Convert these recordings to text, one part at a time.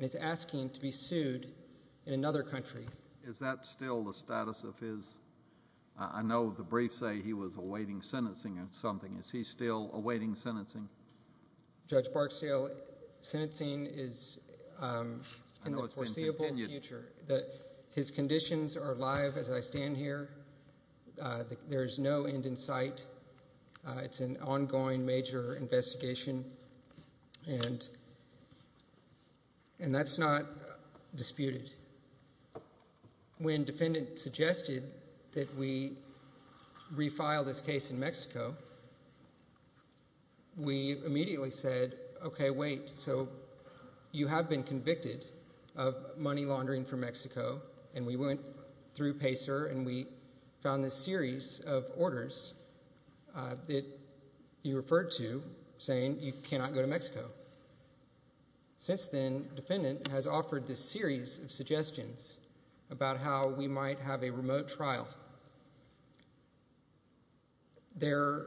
is asking to be sued in another country. Is that still the status of his... I know the briefs say he was awaiting sentencing or something. Is he still awaiting sentencing? Judge Barksdale, sentencing is in the foreseeable future. His conditions are alive as I stand here. There is no end in sight. It's an ongoing major investigation. And that's not disputed. When defendant suggested that we refile this case in Mexico, we immediately said, okay, wait. So you have been convicted of money laundering from Mexico. And we went through PACER and we found this series of orders that you referred to saying you cannot go to Mexico. Since then, defendant has offered this series of suggestions about how we might have a remote trial. There,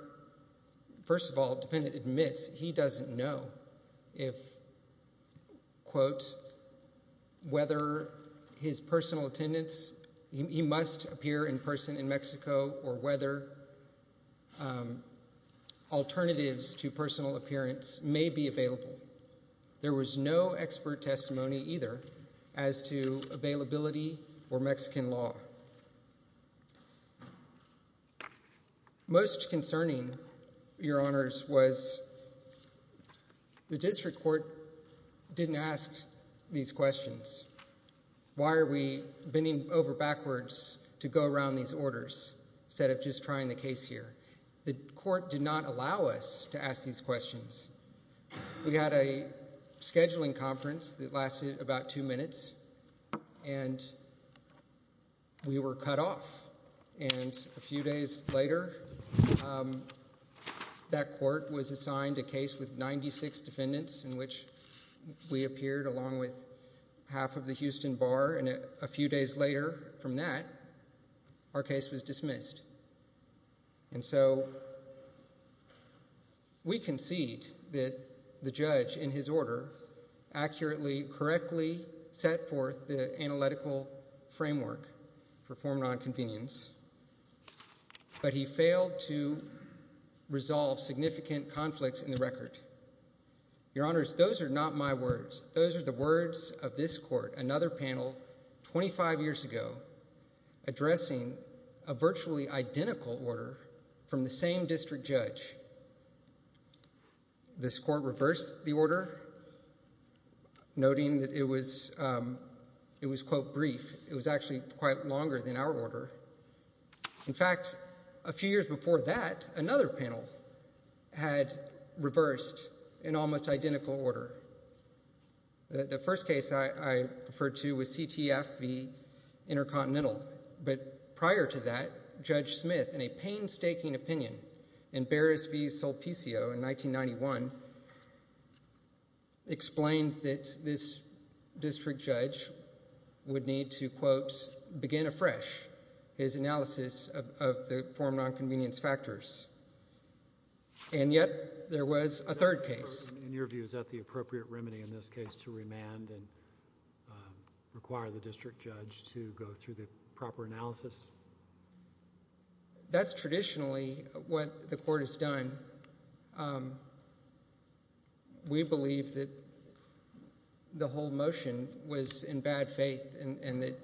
first of all, defendant admits he doesn't know if, quote, whether his personal attendance, he must appear in person in Mexico or whether alternatives to personal appearance may be available. There was no expert testimony either as to availability or Mexican law. Most concerning, Your Honors, was the district court didn't ask these questions. Why are we bending over backwards to go around these orders instead of just trying the case here? The court did not allow us to ask these questions. We had a scheduling conference that lasted about two minutes. And we were cut off. And a few days later, that court was assigned a case with 96 defendants in which we appeared along with half of the Houston Bar. And a few days later from that, our case was dismissed. And so we concede that the judge in his order accurately, correctly, set forth the analytical framework for former nonconvenience. But he failed to resolve significant conflicts in the record. Your Honors, those are not my words. Those are the words of this court, another panel 25 years ago, addressing a virtually identical order from the same district judge. This court reversed the order, noting that it was, quote, brief. It was actually quite longer than our order. In fact, a few years before that, another panel had reversed an almost identical order. The first case I referred to was CTF v. Intercontinental. But prior to that, Judge Smith, in a painstaking opinion, in Beres v. Sulpicio in 1991, explained that this district judge would need to, quote, begin afresh his analysis of the former nonconvenience factors. And yet there was a third case. In your view, is that the appropriate remedy in this case to remand and require the district judge to go through the proper analysis? That's traditionally what the court has done. We believe that the whole motion was in bad faith and that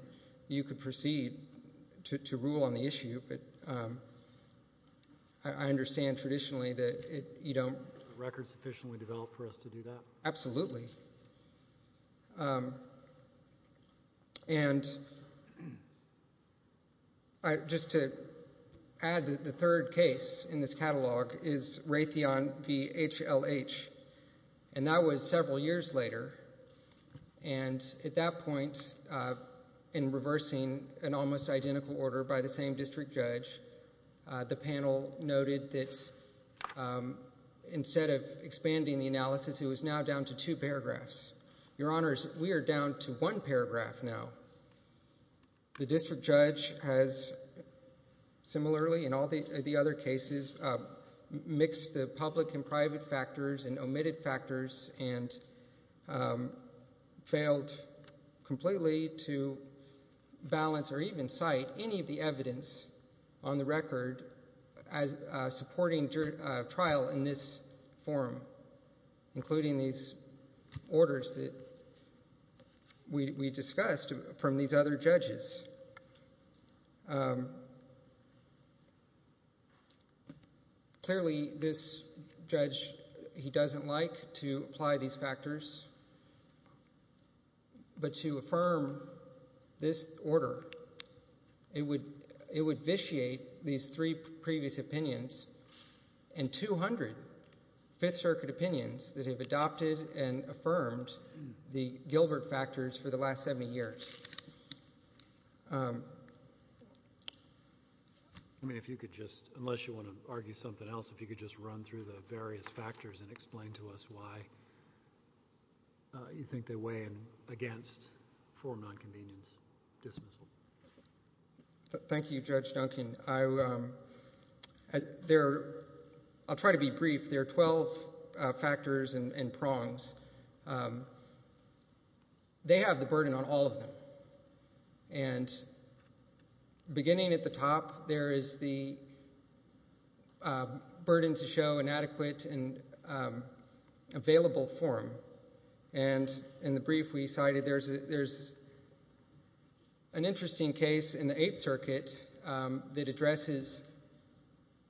you could proceed to rule on the issue. But I understand traditionally that you don't. Records sufficiently developed for us to do that? Absolutely. And just to add, the third case in this catalog is Raytheon v. HLH, and that was several years later. And at that point, in reversing an almost identical order by the same district judge, the panel noted that instead of expanding the analysis, it was now down to two paragraphs. Your Honors, we are down to one paragraph now. The district judge has similarly, in all the other cases, mixed the public and private factors and omitted factors and failed completely to balance or even cite any of the evidence on the record supporting trial in this forum, including these orders that we discussed from these other judges. Clearly, this judge, he doesn't like to apply these factors. But to affirm this order, it would vitiate these three previous opinions and 200 Fifth Circuit opinions that have adopted and affirmed the Gilbert factors for the last 70 years. I mean, if you could just, unless you want to argue something else, if you could just run through the various factors and explain to us why you think they weigh in for nonconvenience dismissal. Thank you, Judge Duncan. I'll try to be brief. There are 12 factors and prongs. They have the burden on all of them. And beginning at the top, there is the burden to show inadequate and available form. And in the brief we cited, there's an interesting case in the Eighth Circuit that addresses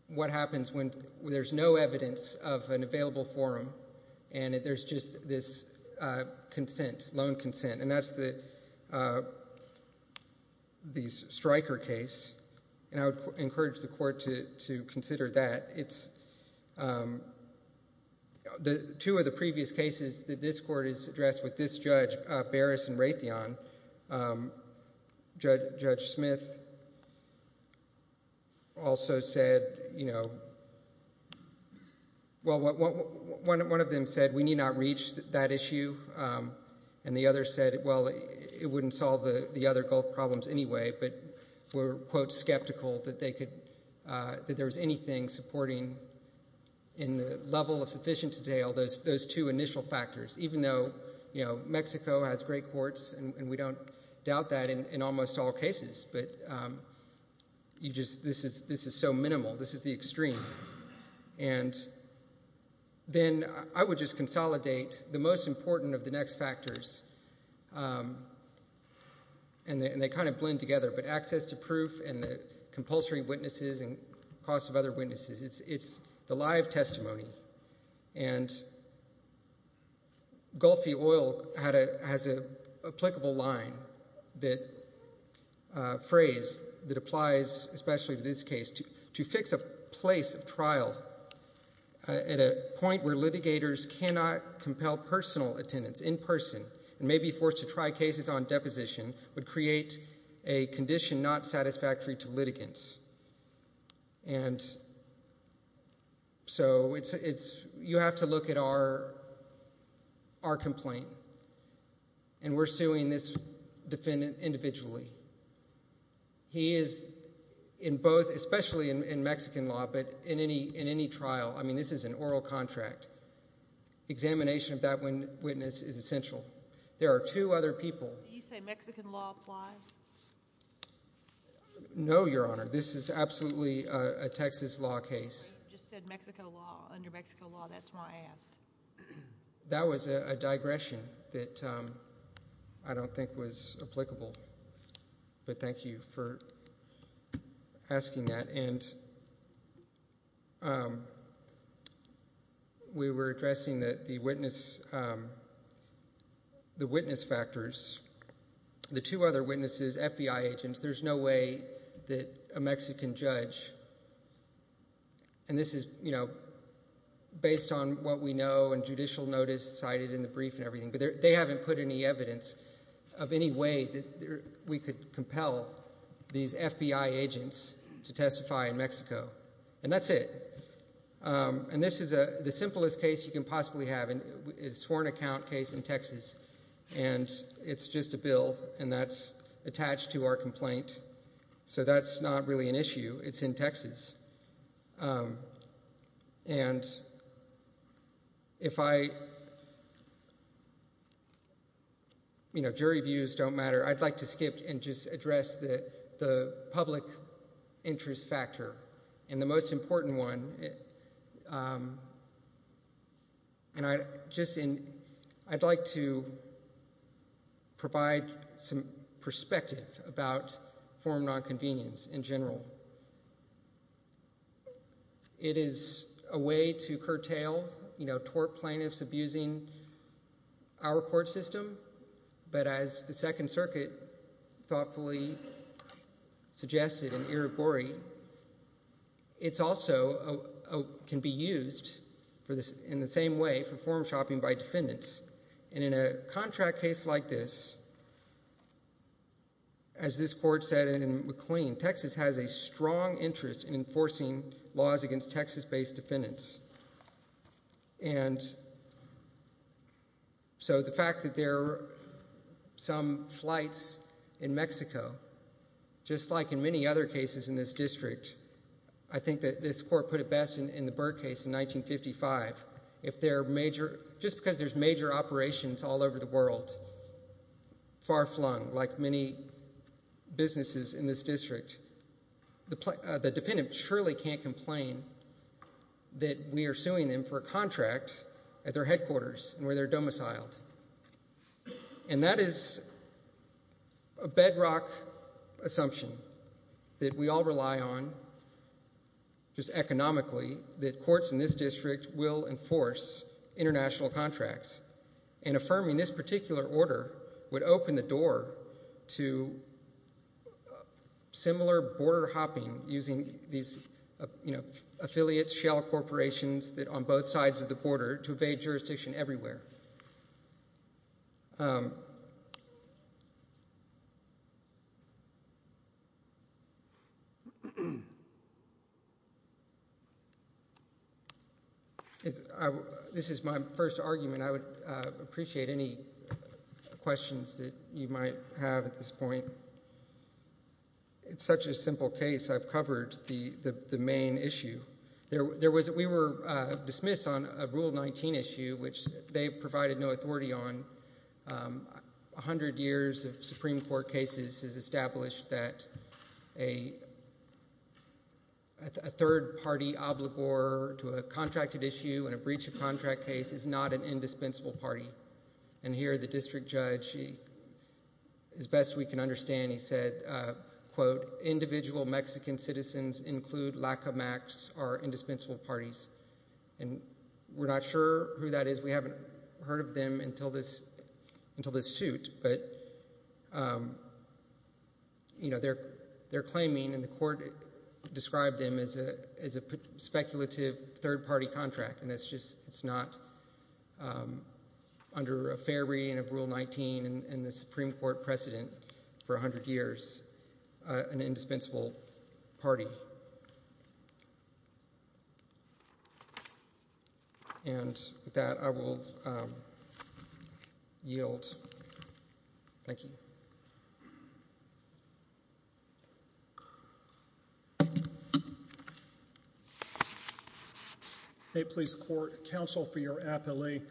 what happens when there's no evidence of an available form and there's just this consent, loan consent. And that's the Stryker case. And I would encourage the court to consider that. Two of the previous cases that this court has addressed with this judge, Barras and Raytheon, Judge Smith also said, you know, well, one of them said, we need not reach that issue. And the other said, well, it wouldn't solve the other Gulf problems anyway, but were, quote, skeptical that they could, that there was anything supporting in the level of sufficient detail, those two initial factors. Even though, you know, Mexico has great courts and we don't doubt that in almost all cases, but you just, this is so minimal. This is the extreme. And then I would just consolidate the most important of the next factors. And they kind of blend together, but access to proof and the compulsory witnesses and the costs of other witnesses, it's the live testimony. And Gulfy Oil has an applicable line that, phrase that applies especially to this case, to fix a place of trial at a point where litigators cannot compel personal attendance in person and may be forced to try cases on deposition would create a condition not satisfactory to litigants. And so it's, you have to look at our complaint. And we're suing this defendant individually. He is in both, especially in Mexican law, but in any trial, I mean, this is an oral contract. Examination of that witness is essential. There are two other people. Did you say Mexican law applies? No, Your Honor. This is absolutely a Texas law case. You just said Mexico law, under Mexico law. That's why I asked. That was a digression that I don't think was applicable. But thank you for asking that. And we were addressing the witness factors. The two other witnesses, FBI agents, there's no way that a Mexican judge, and this is based on what we know and judicial notice cited in the brief and everything, but they haven't put any evidence of any way that we could compel these FBI agents to testify in Mexico. And that's it. And this is the simplest case you can possibly have. It's a sworn account case in Texas, and it's just a bill, and that's attached to our complaint. So that's not really an issue. It's in Texas. And if I, you know, jury views don't matter, I'd like to skip and just address the public interest factor. And the most important one, and I'd like to provide some perspective about foreign nonconvenience in general. It is a way to curtail, you know, tort plaintiffs abusing our court system. But as the Second Circuit thoughtfully suggested in Irigori, it also can be used in the same way for form shopping by defendants. And in a contract case like this, as this court said in McLean, Texas has a strong interest in enforcing laws against Texas-based defendants. And so the fact that there are some flights in Mexico, just like in many other cases in this district, I think that this court put it best in the Byrd case in 1955. If they're major, just because there's major operations all over the world, far-flung, like many businesses in this district, the defendant surely can't complain that we are suing them for a contract at their headquarters where they're domiciled. And that is a bedrock assumption that we all rely on just economically, that courts in this district will enforce international contracts. And affirming this particular order would open the door to similar border hopping using these affiliates, shell corporations, on both sides of the border, to evade jurisdiction everywhere. This is my first argument. I would appreciate any questions that you might have at this point. It's such a simple case. I've covered the main issue. We were dismissed on a Rule 19 issue, which they provided no authority on. 100 years of Supreme Court cases has established that a third-party obligor to a contracted issue and a breach of contract case is not an indispensable party. And here, the district judge, as best we can understand, he said, quote, individual Mexican citizens include LACA MAX or indispensable parties. And we're not sure who that is. We haven't heard of them until this suit. But, you know, they're claiming, and the court described them as a speculative third-party contract. And it's just not, under a fair reading of Rule 19 and the Supreme Court precedent for 100 years, an indispensable party. And with that, I will yield. Thank you. Thank you. Hey, police court, counsel for your appellee.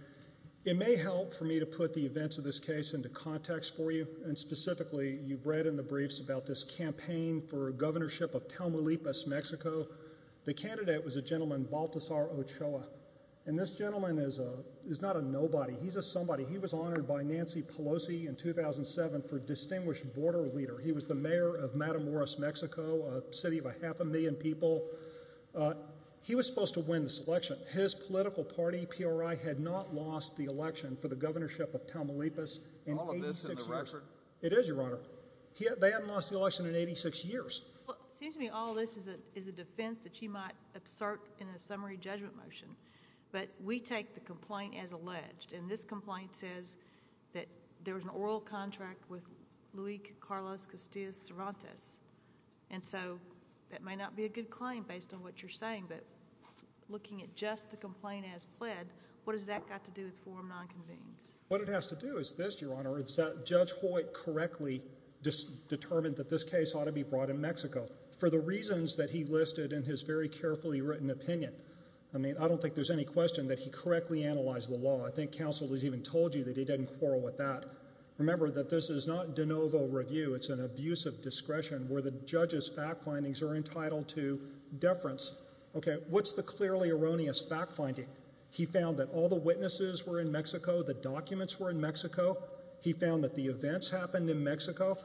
It may help for me to put the events of this case into context for you. And specifically, you've read in the briefs about this campaign for governorship of Tamaulipas, Mexico. The candidate was a gentleman, Baltazar Ochoa. And this gentleman is not a nobody. He's a somebody. He was honored by Nancy Pelosi in 2007 for distinguished border leader. He was the mayor of Matamoros, Mexico, a city of a half a million people. He was supposed to win this election. His political party, PRI, had not lost the election for the governorship of Tamaulipas in 86 years. All of this in the record? It is, Your Honor. They haven't lost the election in 86 years. Well, it seems to me all this is a defense that she might assert in a summary judgment motion. But we take the complaint as alleged. And this complaint says that there was an oral contract with Luis Carlos Castillo Cervantes. And so that may not be a good claim based on what you're saying. But looking at just the complaint as pled, what has that got to do with Form 9 convenes? What it has to do is this, Your Honor, is that Judge Hoyt correctly determined that this case ought to be brought in Mexico for the reasons that he listed in his very carefully written opinion. I mean, I don't think there's any question that he correctly analyzed the law. I think counsel has even told you that he didn't quarrel with that. Remember that this is not de novo review. It's an abuse of discretion where the judge's fact findings are entitled to deference. Okay, what's the clearly erroneous fact finding? He found that all the witnesses were in Mexico. The documents were in Mexico. He found that the events happened in Mexico.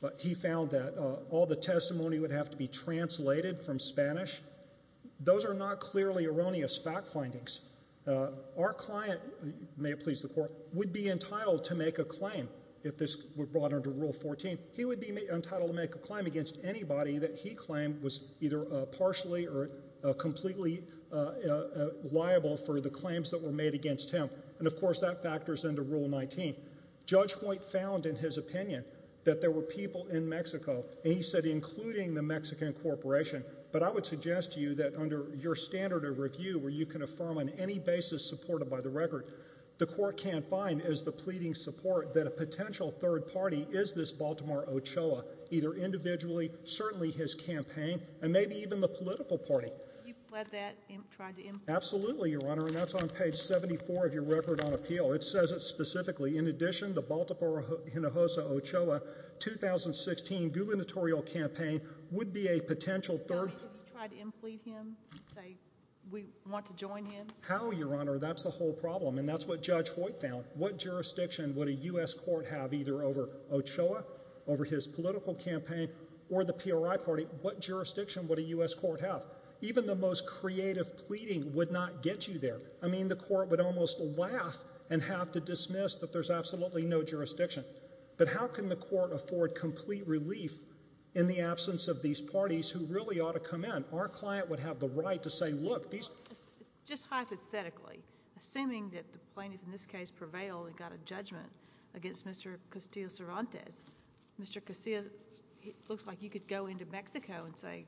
But he found that all the testimony would have to be translated from Spanish. Those are not clearly erroneous fact findings. Our client, may it please the Court, would be entitled to make a claim if this were brought under Rule 14. He would be entitled to make a claim against anybody that he claimed was either partially or completely liable for the claims that were made against him. And, of course, that factors into Rule 19. Judge Hoyt found in his opinion that there were people in Mexico, and he said including the Mexican corporation, but I would suggest to you that under your standard of review where you can affirm on any basis supported by the record, the Court can't find as the pleading support that a potential third party is this Baltimore Ochoa, either individually, certainly his campaign, and maybe even the political party. You've read that and tried to implement it. Absolutely, Your Honor, and that's on page 74 of your Record on Appeal. It says it specifically. In addition, the Baltimore Hinojosa Ochoa 2016 gubernatorial campaign would be a potential third party. Have you tried to implead him? Say, we want to join him? How, Your Honor? That's the whole problem, and that's what Judge Hoyt found. What jurisdiction would a U.S. court have either over Ochoa, over his political campaign, or the PRI party? What jurisdiction would a U.S. court have? Even the most creative pleading would not get you there. I mean, the Court would almost laugh and have to dismiss that there's absolutely no jurisdiction. But how can the Court afford complete relief in the absence of these parties who really ought to come in? Our client would have the right to say, Look, these... Just hypothetically, assuming that the plaintiff in this case prevailed and got a judgment against Mr. Castillo-Cervantes, Mr. Castillo looks like he could go into Mexico and say,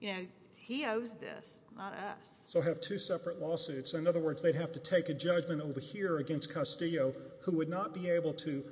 you know, he owes this, not us. So have two separate lawsuits. In other words, they'd have to take a judgment over here against Castillo who would not be able to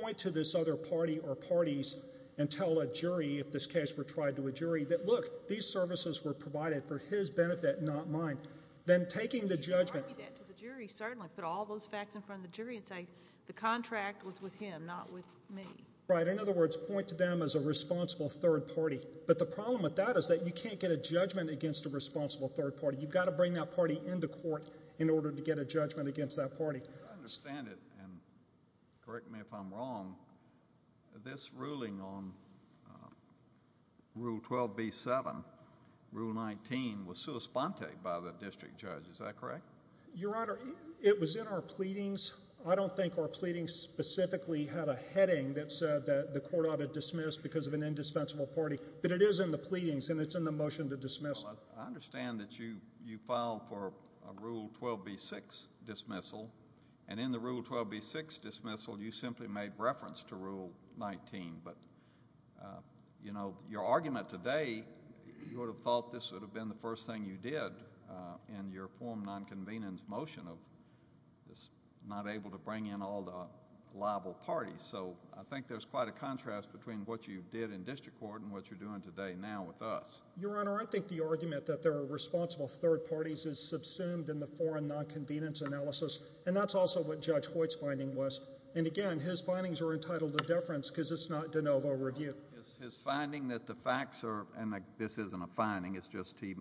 point to this other party or parties and tell a jury, if this case were tried to a jury, that, look, these services were provided for his benefit, not mine. Then taking the judgment... You could argue that to the jury, certainly. Put all those facts in front of the jury and say the contract was with him, not with me. Right. In other words, point to them as a responsible third party. But the problem with that is that you can't get a judgment against a responsible third party. You've got to bring that party into court in order to get a judgment against that party. I understand it, and correct me if I'm wrong, this ruling on Rule 12b-7, Rule 19, was sua sponte by the district judge. Is that correct? Your Honor, it was in our pleadings. I don't think our pleadings specifically had a heading that said that the court ought to dismiss because of an indispensable party. But it is in the pleadings, and it's in the motion to dismiss. I understand that you filed for a Rule 12b-6 dismissal, and in the Rule 12b-6 dismissal, you simply made reference to Rule 19. But, you know, your argument today, you would have thought this would have been the first thing you did in your form nonconvenience motion of not able to bring in all the liable parties. So I think there's quite a contrast between what you did in district court and what you're doing today now with us. Your Honor, I think the argument that there are responsible third parties is subsumed in the foreign nonconvenience analysis, and that's also what Judge Hoyt's finding was. And again, his findings are entitled to deference because it's not de novo review. Is his finding that the facts are, and this isn't a finding, it's just he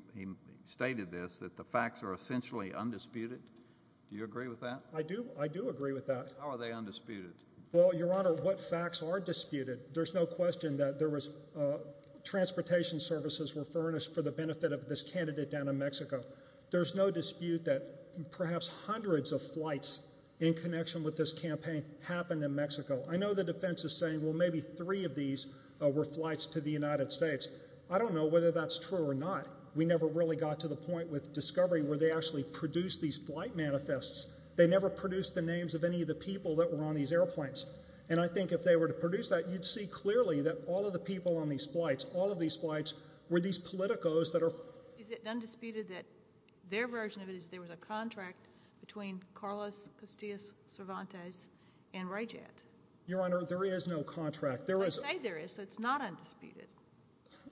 stated this, that the facts are essentially undisputed? Do you agree with that? I do. I do agree with that. How are they undisputed? Well, Your Honor, what facts are disputed? There's no question that there was transportation services were furnished for the benefit of this candidate down in Mexico. There's no dispute that perhaps hundreds of flights in connection with this campaign happened in Mexico. I know the defense is saying, well, maybe three of these were flights to the United States. I don't know whether that's true or not. We never really got to the point with Discovery where they actually produced these flight manifests. They never produced the names of any of the people that were on these airplanes. And I think if they were to produce that, you'd see clearly that all of the people on these flights, all of these flights were these politicos that are... Is it undisputed that their version of it is there was a contract between Carlos Castillo Cervantes and Ray Jett? Your Honor, there is no contract. They say there is, so it's not undisputed.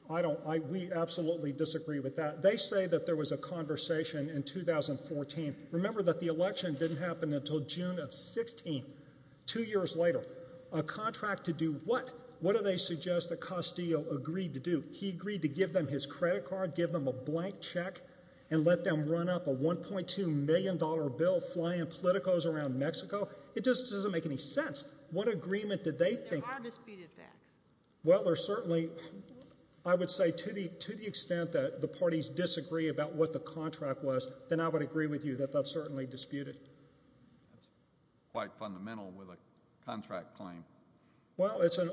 I don't... We absolutely disagree with that. They say that there was a conversation in 2014. Remember that the election didn't happen until June of 16, two years later. A contract to do what? What do they suggest that Castillo agreed to do? He agreed to give them his credit card, give them a blank check, and let them run up a $1.2 million bill flying politicos around Mexico? It just doesn't make any sense. What agreement did they think? There are disputed facts. Well, there certainly... I would say to the extent that the parties disagree about what the contract was, then I would agree with you that that's certainly disputed. That's quite fundamental with a contract claim. Well, it's an...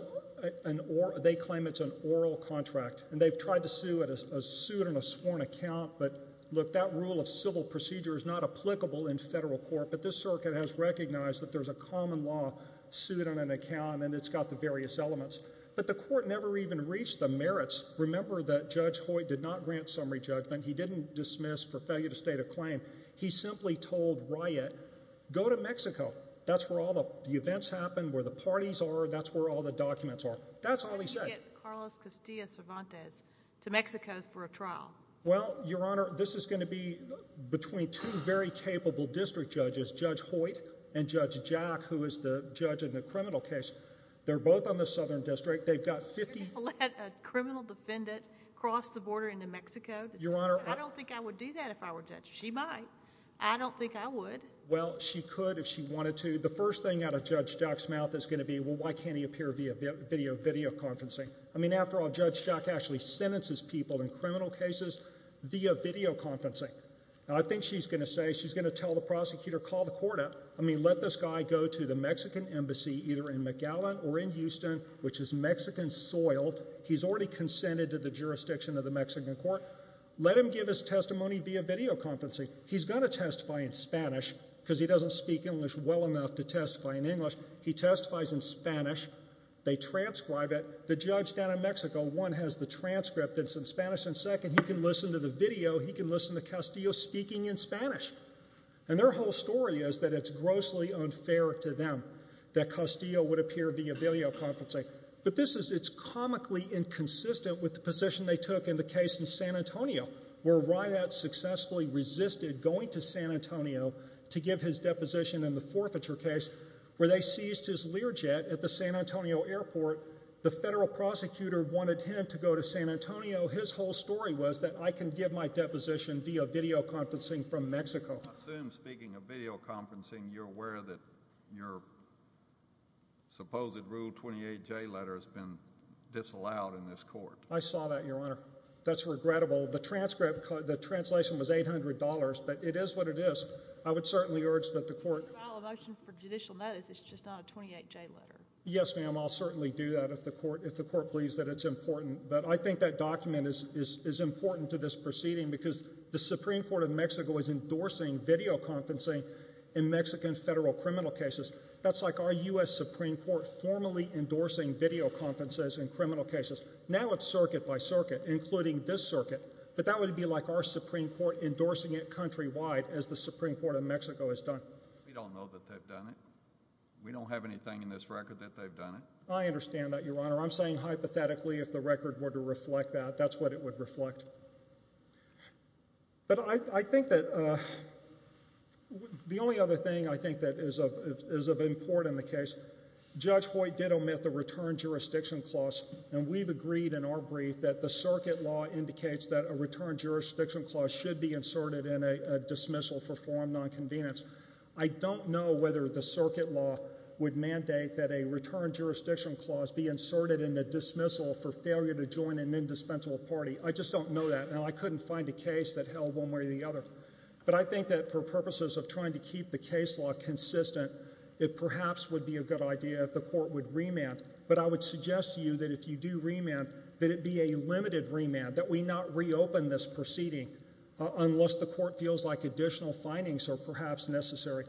They claim it's an oral contract, and they've tried to sue it as sued on a sworn account, but, look, that rule of civil procedure is not applicable in federal court, but this circuit has recognized that there's a common law sued on an account, and it's got the various elements. But the court never even reached the merits. Remember that Judge Hoyt did not grant summary judgment. He didn't dismiss for failure to state a claim. He simply told Riot, go to Mexico. That's where all the events happen, where the parties are, that's where all the documents are. That's all he said. How do you get Carlos Castillo Cervantes to Mexico for a trial? Well, Your Honor, this is going to be between two very capable district judges, Judge Hoyt and Judge Jack, who is the judge in the criminal case. They're both on the Southern District. They've got 50... You're going to let a criminal defendant cross the border into Mexico? Your Honor... I don't think I would do that if I were a judge. She might. I don't think I would. Well, she could if she wanted to. The first thing out of Judge Jack's mouth is going to be, well, why can't he appear via videoconferencing? I mean, after all, Judge Jack actually sentences people in criminal cases via videoconferencing. Now, I think she's going to say, she's going to tell the prosecutor, call the court up, I mean, let this guy go to the Mexican embassy either in Magallan or in Houston, which is Mexican-soiled. He's already consented to the jurisdiction of the Mexican court. Let him give his testimony via videoconferencing. He's going to testify in Spanish because he doesn't speak English well enough to testify in English. He testifies in Spanish. They transcribe it. The judge down in Mexico, one, has the transcript. It's in Spanish. And second, he can listen to the video. He can listen to Castillo speaking in Spanish. And their whole story is that it's grossly unfair to them that Castillo would appear via videoconferencing. But this is, it's comically inconsistent with the position they took in the case in San Antonio where Rideout successfully resisted going to San Antonio to give his deposition in the forfeiture case where they seized his Learjet at the San Antonio airport. The federal prosecutor wanted him to go to San Antonio. His whole story was that I can give my deposition via videoconferencing from Mexico. I assume, speaking of videoconferencing, you're aware that your supposed Rule 28J letter has been disallowed in this court. I saw that, Your Honor. That's regrettable. The transcript, the translation was $800, but it is what it is. I would certainly urge that the court... If you file a motion for judicial notice, it's just not a 28J letter. Yes, ma'am, I'll certainly do that if the court believes that it's important. But I think that document is important to this proceeding because the Supreme Court of Mexico is endorsing videoconferencing in Mexican federal criminal cases. That's like our U.S. Supreme Court formally endorsing videoconferences in criminal cases. Now it's circuit by circuit, including this circuit, but that would be like our Supreme Court endorsing it countrywide as the Supreme Court of Mexico has done. We don't know that they've done it. We don't have anything in this record that they've done it. I understand that, Your Honor. I'm saying hypothetically if the record were to reflect that, that's what it would reflect. But I think that... The only other thing I think that is of import in the case, Judge Hoyt did omit the return jurisdiction clause, and we've agreed in our brief that the circuit law indicates that a return jurisdiction clause should be inserted in a dismissal for forum nonconvenience. I don't know whether the circuit law would mandate that a return jurisdiction clause be inserted in a dismissal for failure to join an indispensable party. I just don't know that. Now, I couldn't find a case that held one way or the other. But I think that for purposes of trying to keep the case law consistent, it perhaps would be a good idea if the court would remand. But I would suggest to you that if you do remand, that it be a limited remand, that we not reopen this proceeding unless the court feels like additional findings are perhaps necessary.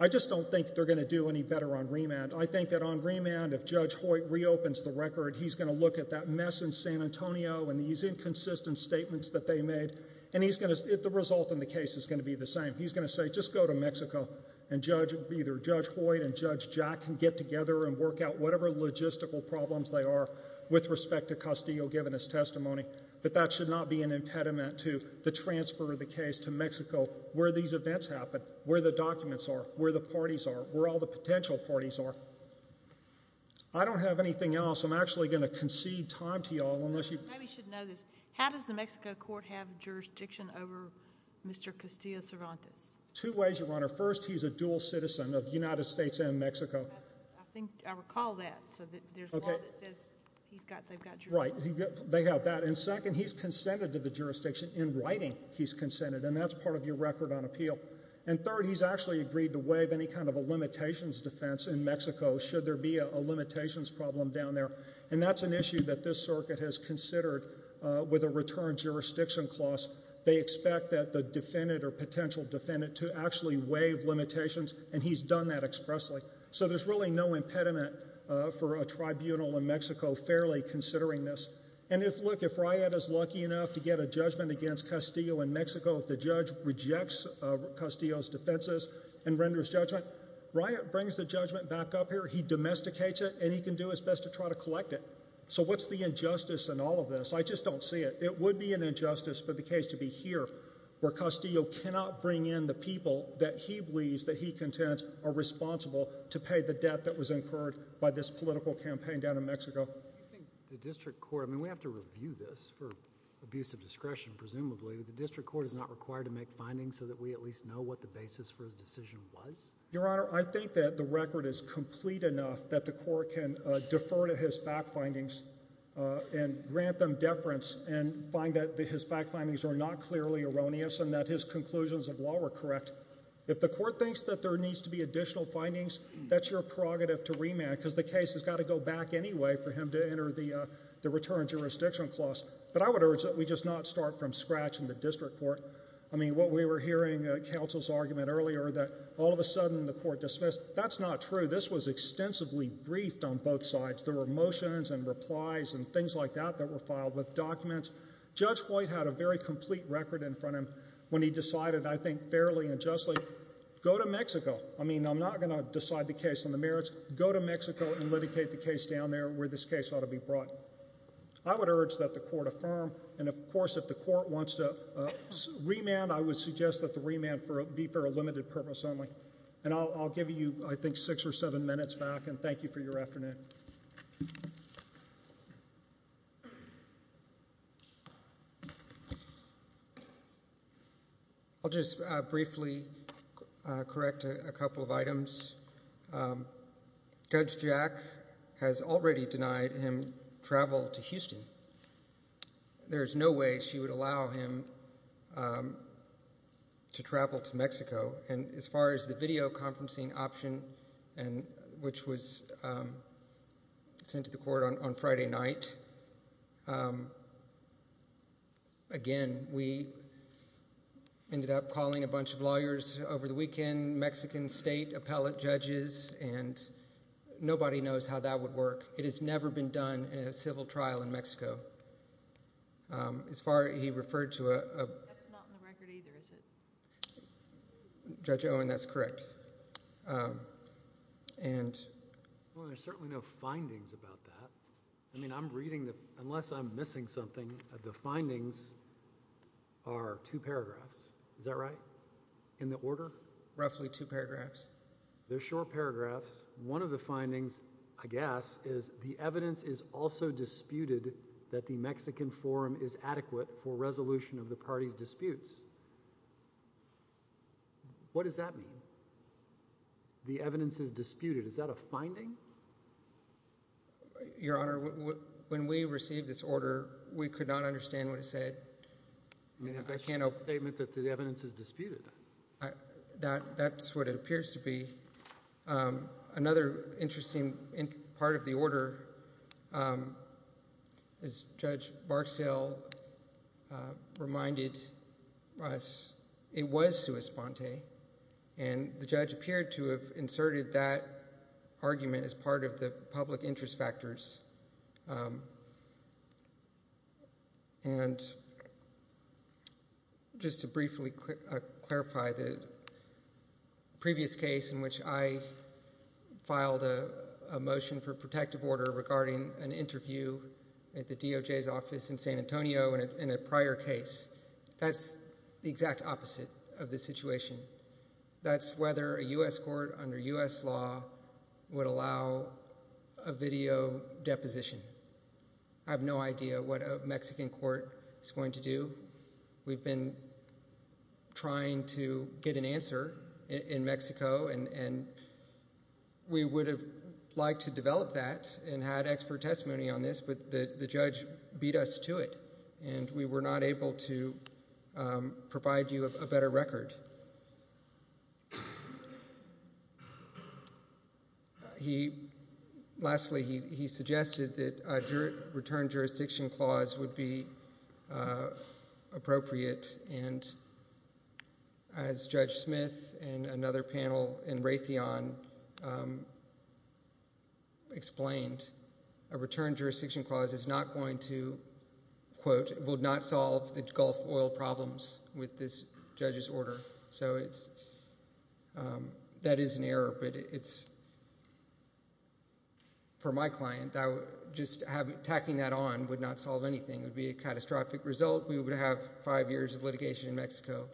I just don't think they're going to do any better on remand. I think that on remand, if Judge Hoyt reopens the record, he's going to look at that mess in San Antonio and these inconsistent statements that they made, and the result in the case is going to be the same. He's going to say, just go to Mexico, and either Judge Hoyt and Judge Jack can get together and work out whatever logistical problems they are with respect to Castillo giving his testimony, that that should not be an impediment to the transfer of the case to Mexico where these events happened, where the documents are, where the parties are, where all the potential parties are. I don't have anything else. I'm actually going to concede time to you all unless you... You probably should know this. How does the Mexico court have jurisdiction over Mr. Castillo Cervantes? Two ways, Your Honor. First, he's a dual citizen of the United States and Mexico. I think I recall that. Okay. Right. They have that. And second, he's consented to the jurisdiction. In writing, he's consented, and that's part of your record on appeal. And third, he's actually agreed to waive any kind of a limitations defense in Mexico should there be a limitations problem down there, and that's an issue that this circuit has considered with a return jurisdiction clause. They expect that the defendant or potential defendant to actually waive limitations, and he's done that expressly. So there's really no impediment for a tribunal in Mexico fairly considering this. And if, look, if Riott is lucky enough to get a judgment against Castillo in Mexico, if the judge rejects Castillo's defenses and renders judgment, Riott brings the judgment back up here, he domesticates it, and he can do his best to try to collect it. So what's the injustice in all of this? I just don't see it. It would be an injustice for the case to be here where Castillo cannot bring in the people that he believes that he contends are responsible to pay the debt that was incurred by this political campaign down in Mexico. I mean, we have to review this for abuse of discretion, presumably. The district court is not required to make findings so that we at least know what the basis for his decision was? Your Honor, I think that the record is complete enough that the court can defer to his fact findings and grant them deference and find that his fact findings are not clearly erroneous and that his conclusions of law were correct. If the court thinks that there needs to be additional findings, that's your prerogative to remand, because the case has got to go back anyway for him to enter the return jurisdiction clause. But I would urge that we just not start from scratch in the district court. I mean, what we were hearing at counsel's argument earlier that all of a sudden the court dismissed, that's not true. This was extensively briefed on both sides. There were motions and replies and things like that that were filed with documents. Judge Hoyt had a very complete record in front of him when he decided, I think fairly and justly, go to Mexico. I mean, I'm not going to decide the case on the merits. Go to Mexico and litigate the case down there where this case ought to be brought. I would urge that the court affirm and, of course, if the court wants to remand, I would suggest that the remand be for a limited purpose only. And I'll give you, I think, six or seven minutes back and thank you for your afternoon. I'll just briefly correct a couple of items. Judge Jack has already denied him travel to Houston. There is no way she would allow him to travel to Mexico. And as far as the video conferencing option, which was sent to the court on Friday night, again, we ended up calling a bunch of lawyers over the weekend, Mexican state appellate judges, and nobody knows how that would work. It has never been done in a civil trial in Mexico. As far as he referred to a... That's not in the record either, is it? Judge Owen, that's correct. And... Well, there's certainly no findings about that. I mean, I'm reading the... Unless I'm missing something, the findings are two paragraphs. Is that right? In the order? Roughly two paragraphs. They're short paragraphs. One of the findings, I guess, is the evidence is also disputed that the Mexican forum is adequate for resolution of the party's disputes. What does that mean? The evidence is disputed. Is that a finding? Your Honor, when we received this order, we could not understand what it said. I mean, that's just a statement that the evidence is disputed. That's what it appears to be. Another interesting part of the order is Judge Barksdale reminded us it was sui sponte, and the judge appeared to have inserted that argument as part of the public interest factors. And... Just to briefly clarify, the previous case in which I filed a motion for protective order regarding an interview at the DOJ's office in San Antonio in a prior case, that's the exact opposite of the situation. That's whether a U.S. court under U.S. law would allow a video deposition. I have no idea what a Mexican court is going to do. We've been trying to get an answer in Mexico, and we would have liked to develop that and had expert testimony on this, but the judge beat us to it, and we were not able to do that. Lastly, he suggested that a return jurisdiction clause would be appropriate, and as Judge Smith and another panel in Raytheon explained, a return jurisdiction clause is not going to quote, will not solve the Gulf oil problems with this judge's order. That is an error, but for my client, tacking that on would not solve anything. It would be a catastrophic result. We would have five years of litigation in Mexico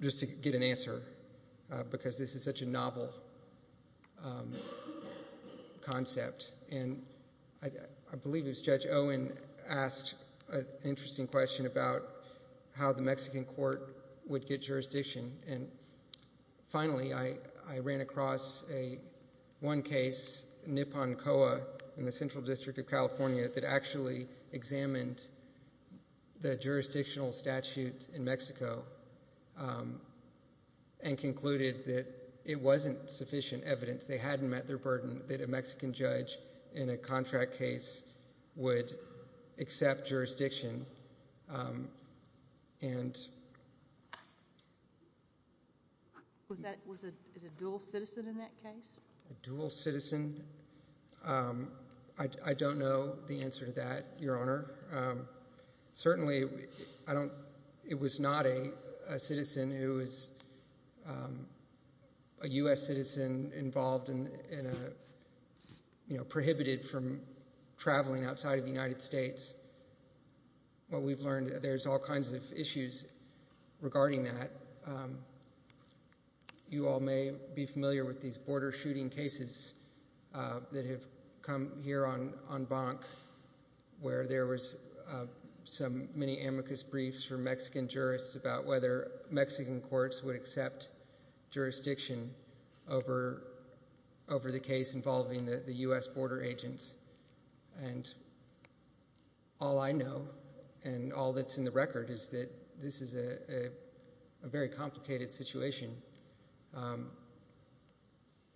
just to get an answer because this is such a novel concept. I believe it was Judge Owen asked an interesting question about how the Mexican court would get jurisdiction, and finally, I ran across one case, Nipon Coa in the Central District of California that actually examined the jurisdictional statute in Mexico and concluded that it wasn't sufficient evidence. They hadn't met their burden that a Mexican judge in a contract case would accept jurisdiction. Was it a dual citizen in that case? A dual citizen? I don't know the answer to that, Your Honor. Certainly, it was not a citizen who was a U.S. citizen involved in a case that was prohibited from traveling outside of the United States. What we've learned, there's all kinds of issues regarding that. You all may be familiar with these border shooting cases that have come here on Bonk where there was some many amicus briefs from Mexican jurists about whether Mexican courts would accept jurisdiction over the case involving the U.S. border agents. All I know, and all that's in the record, is that this is a very complicated situation.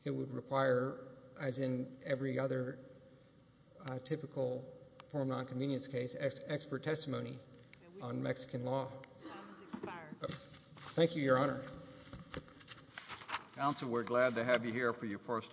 It would require, as in every other typical form of nonconvenience case, expert testimony on Mexican law. Time has expired. Thank you, Your Honor. Counsel, we're glad to have you here for your first argument.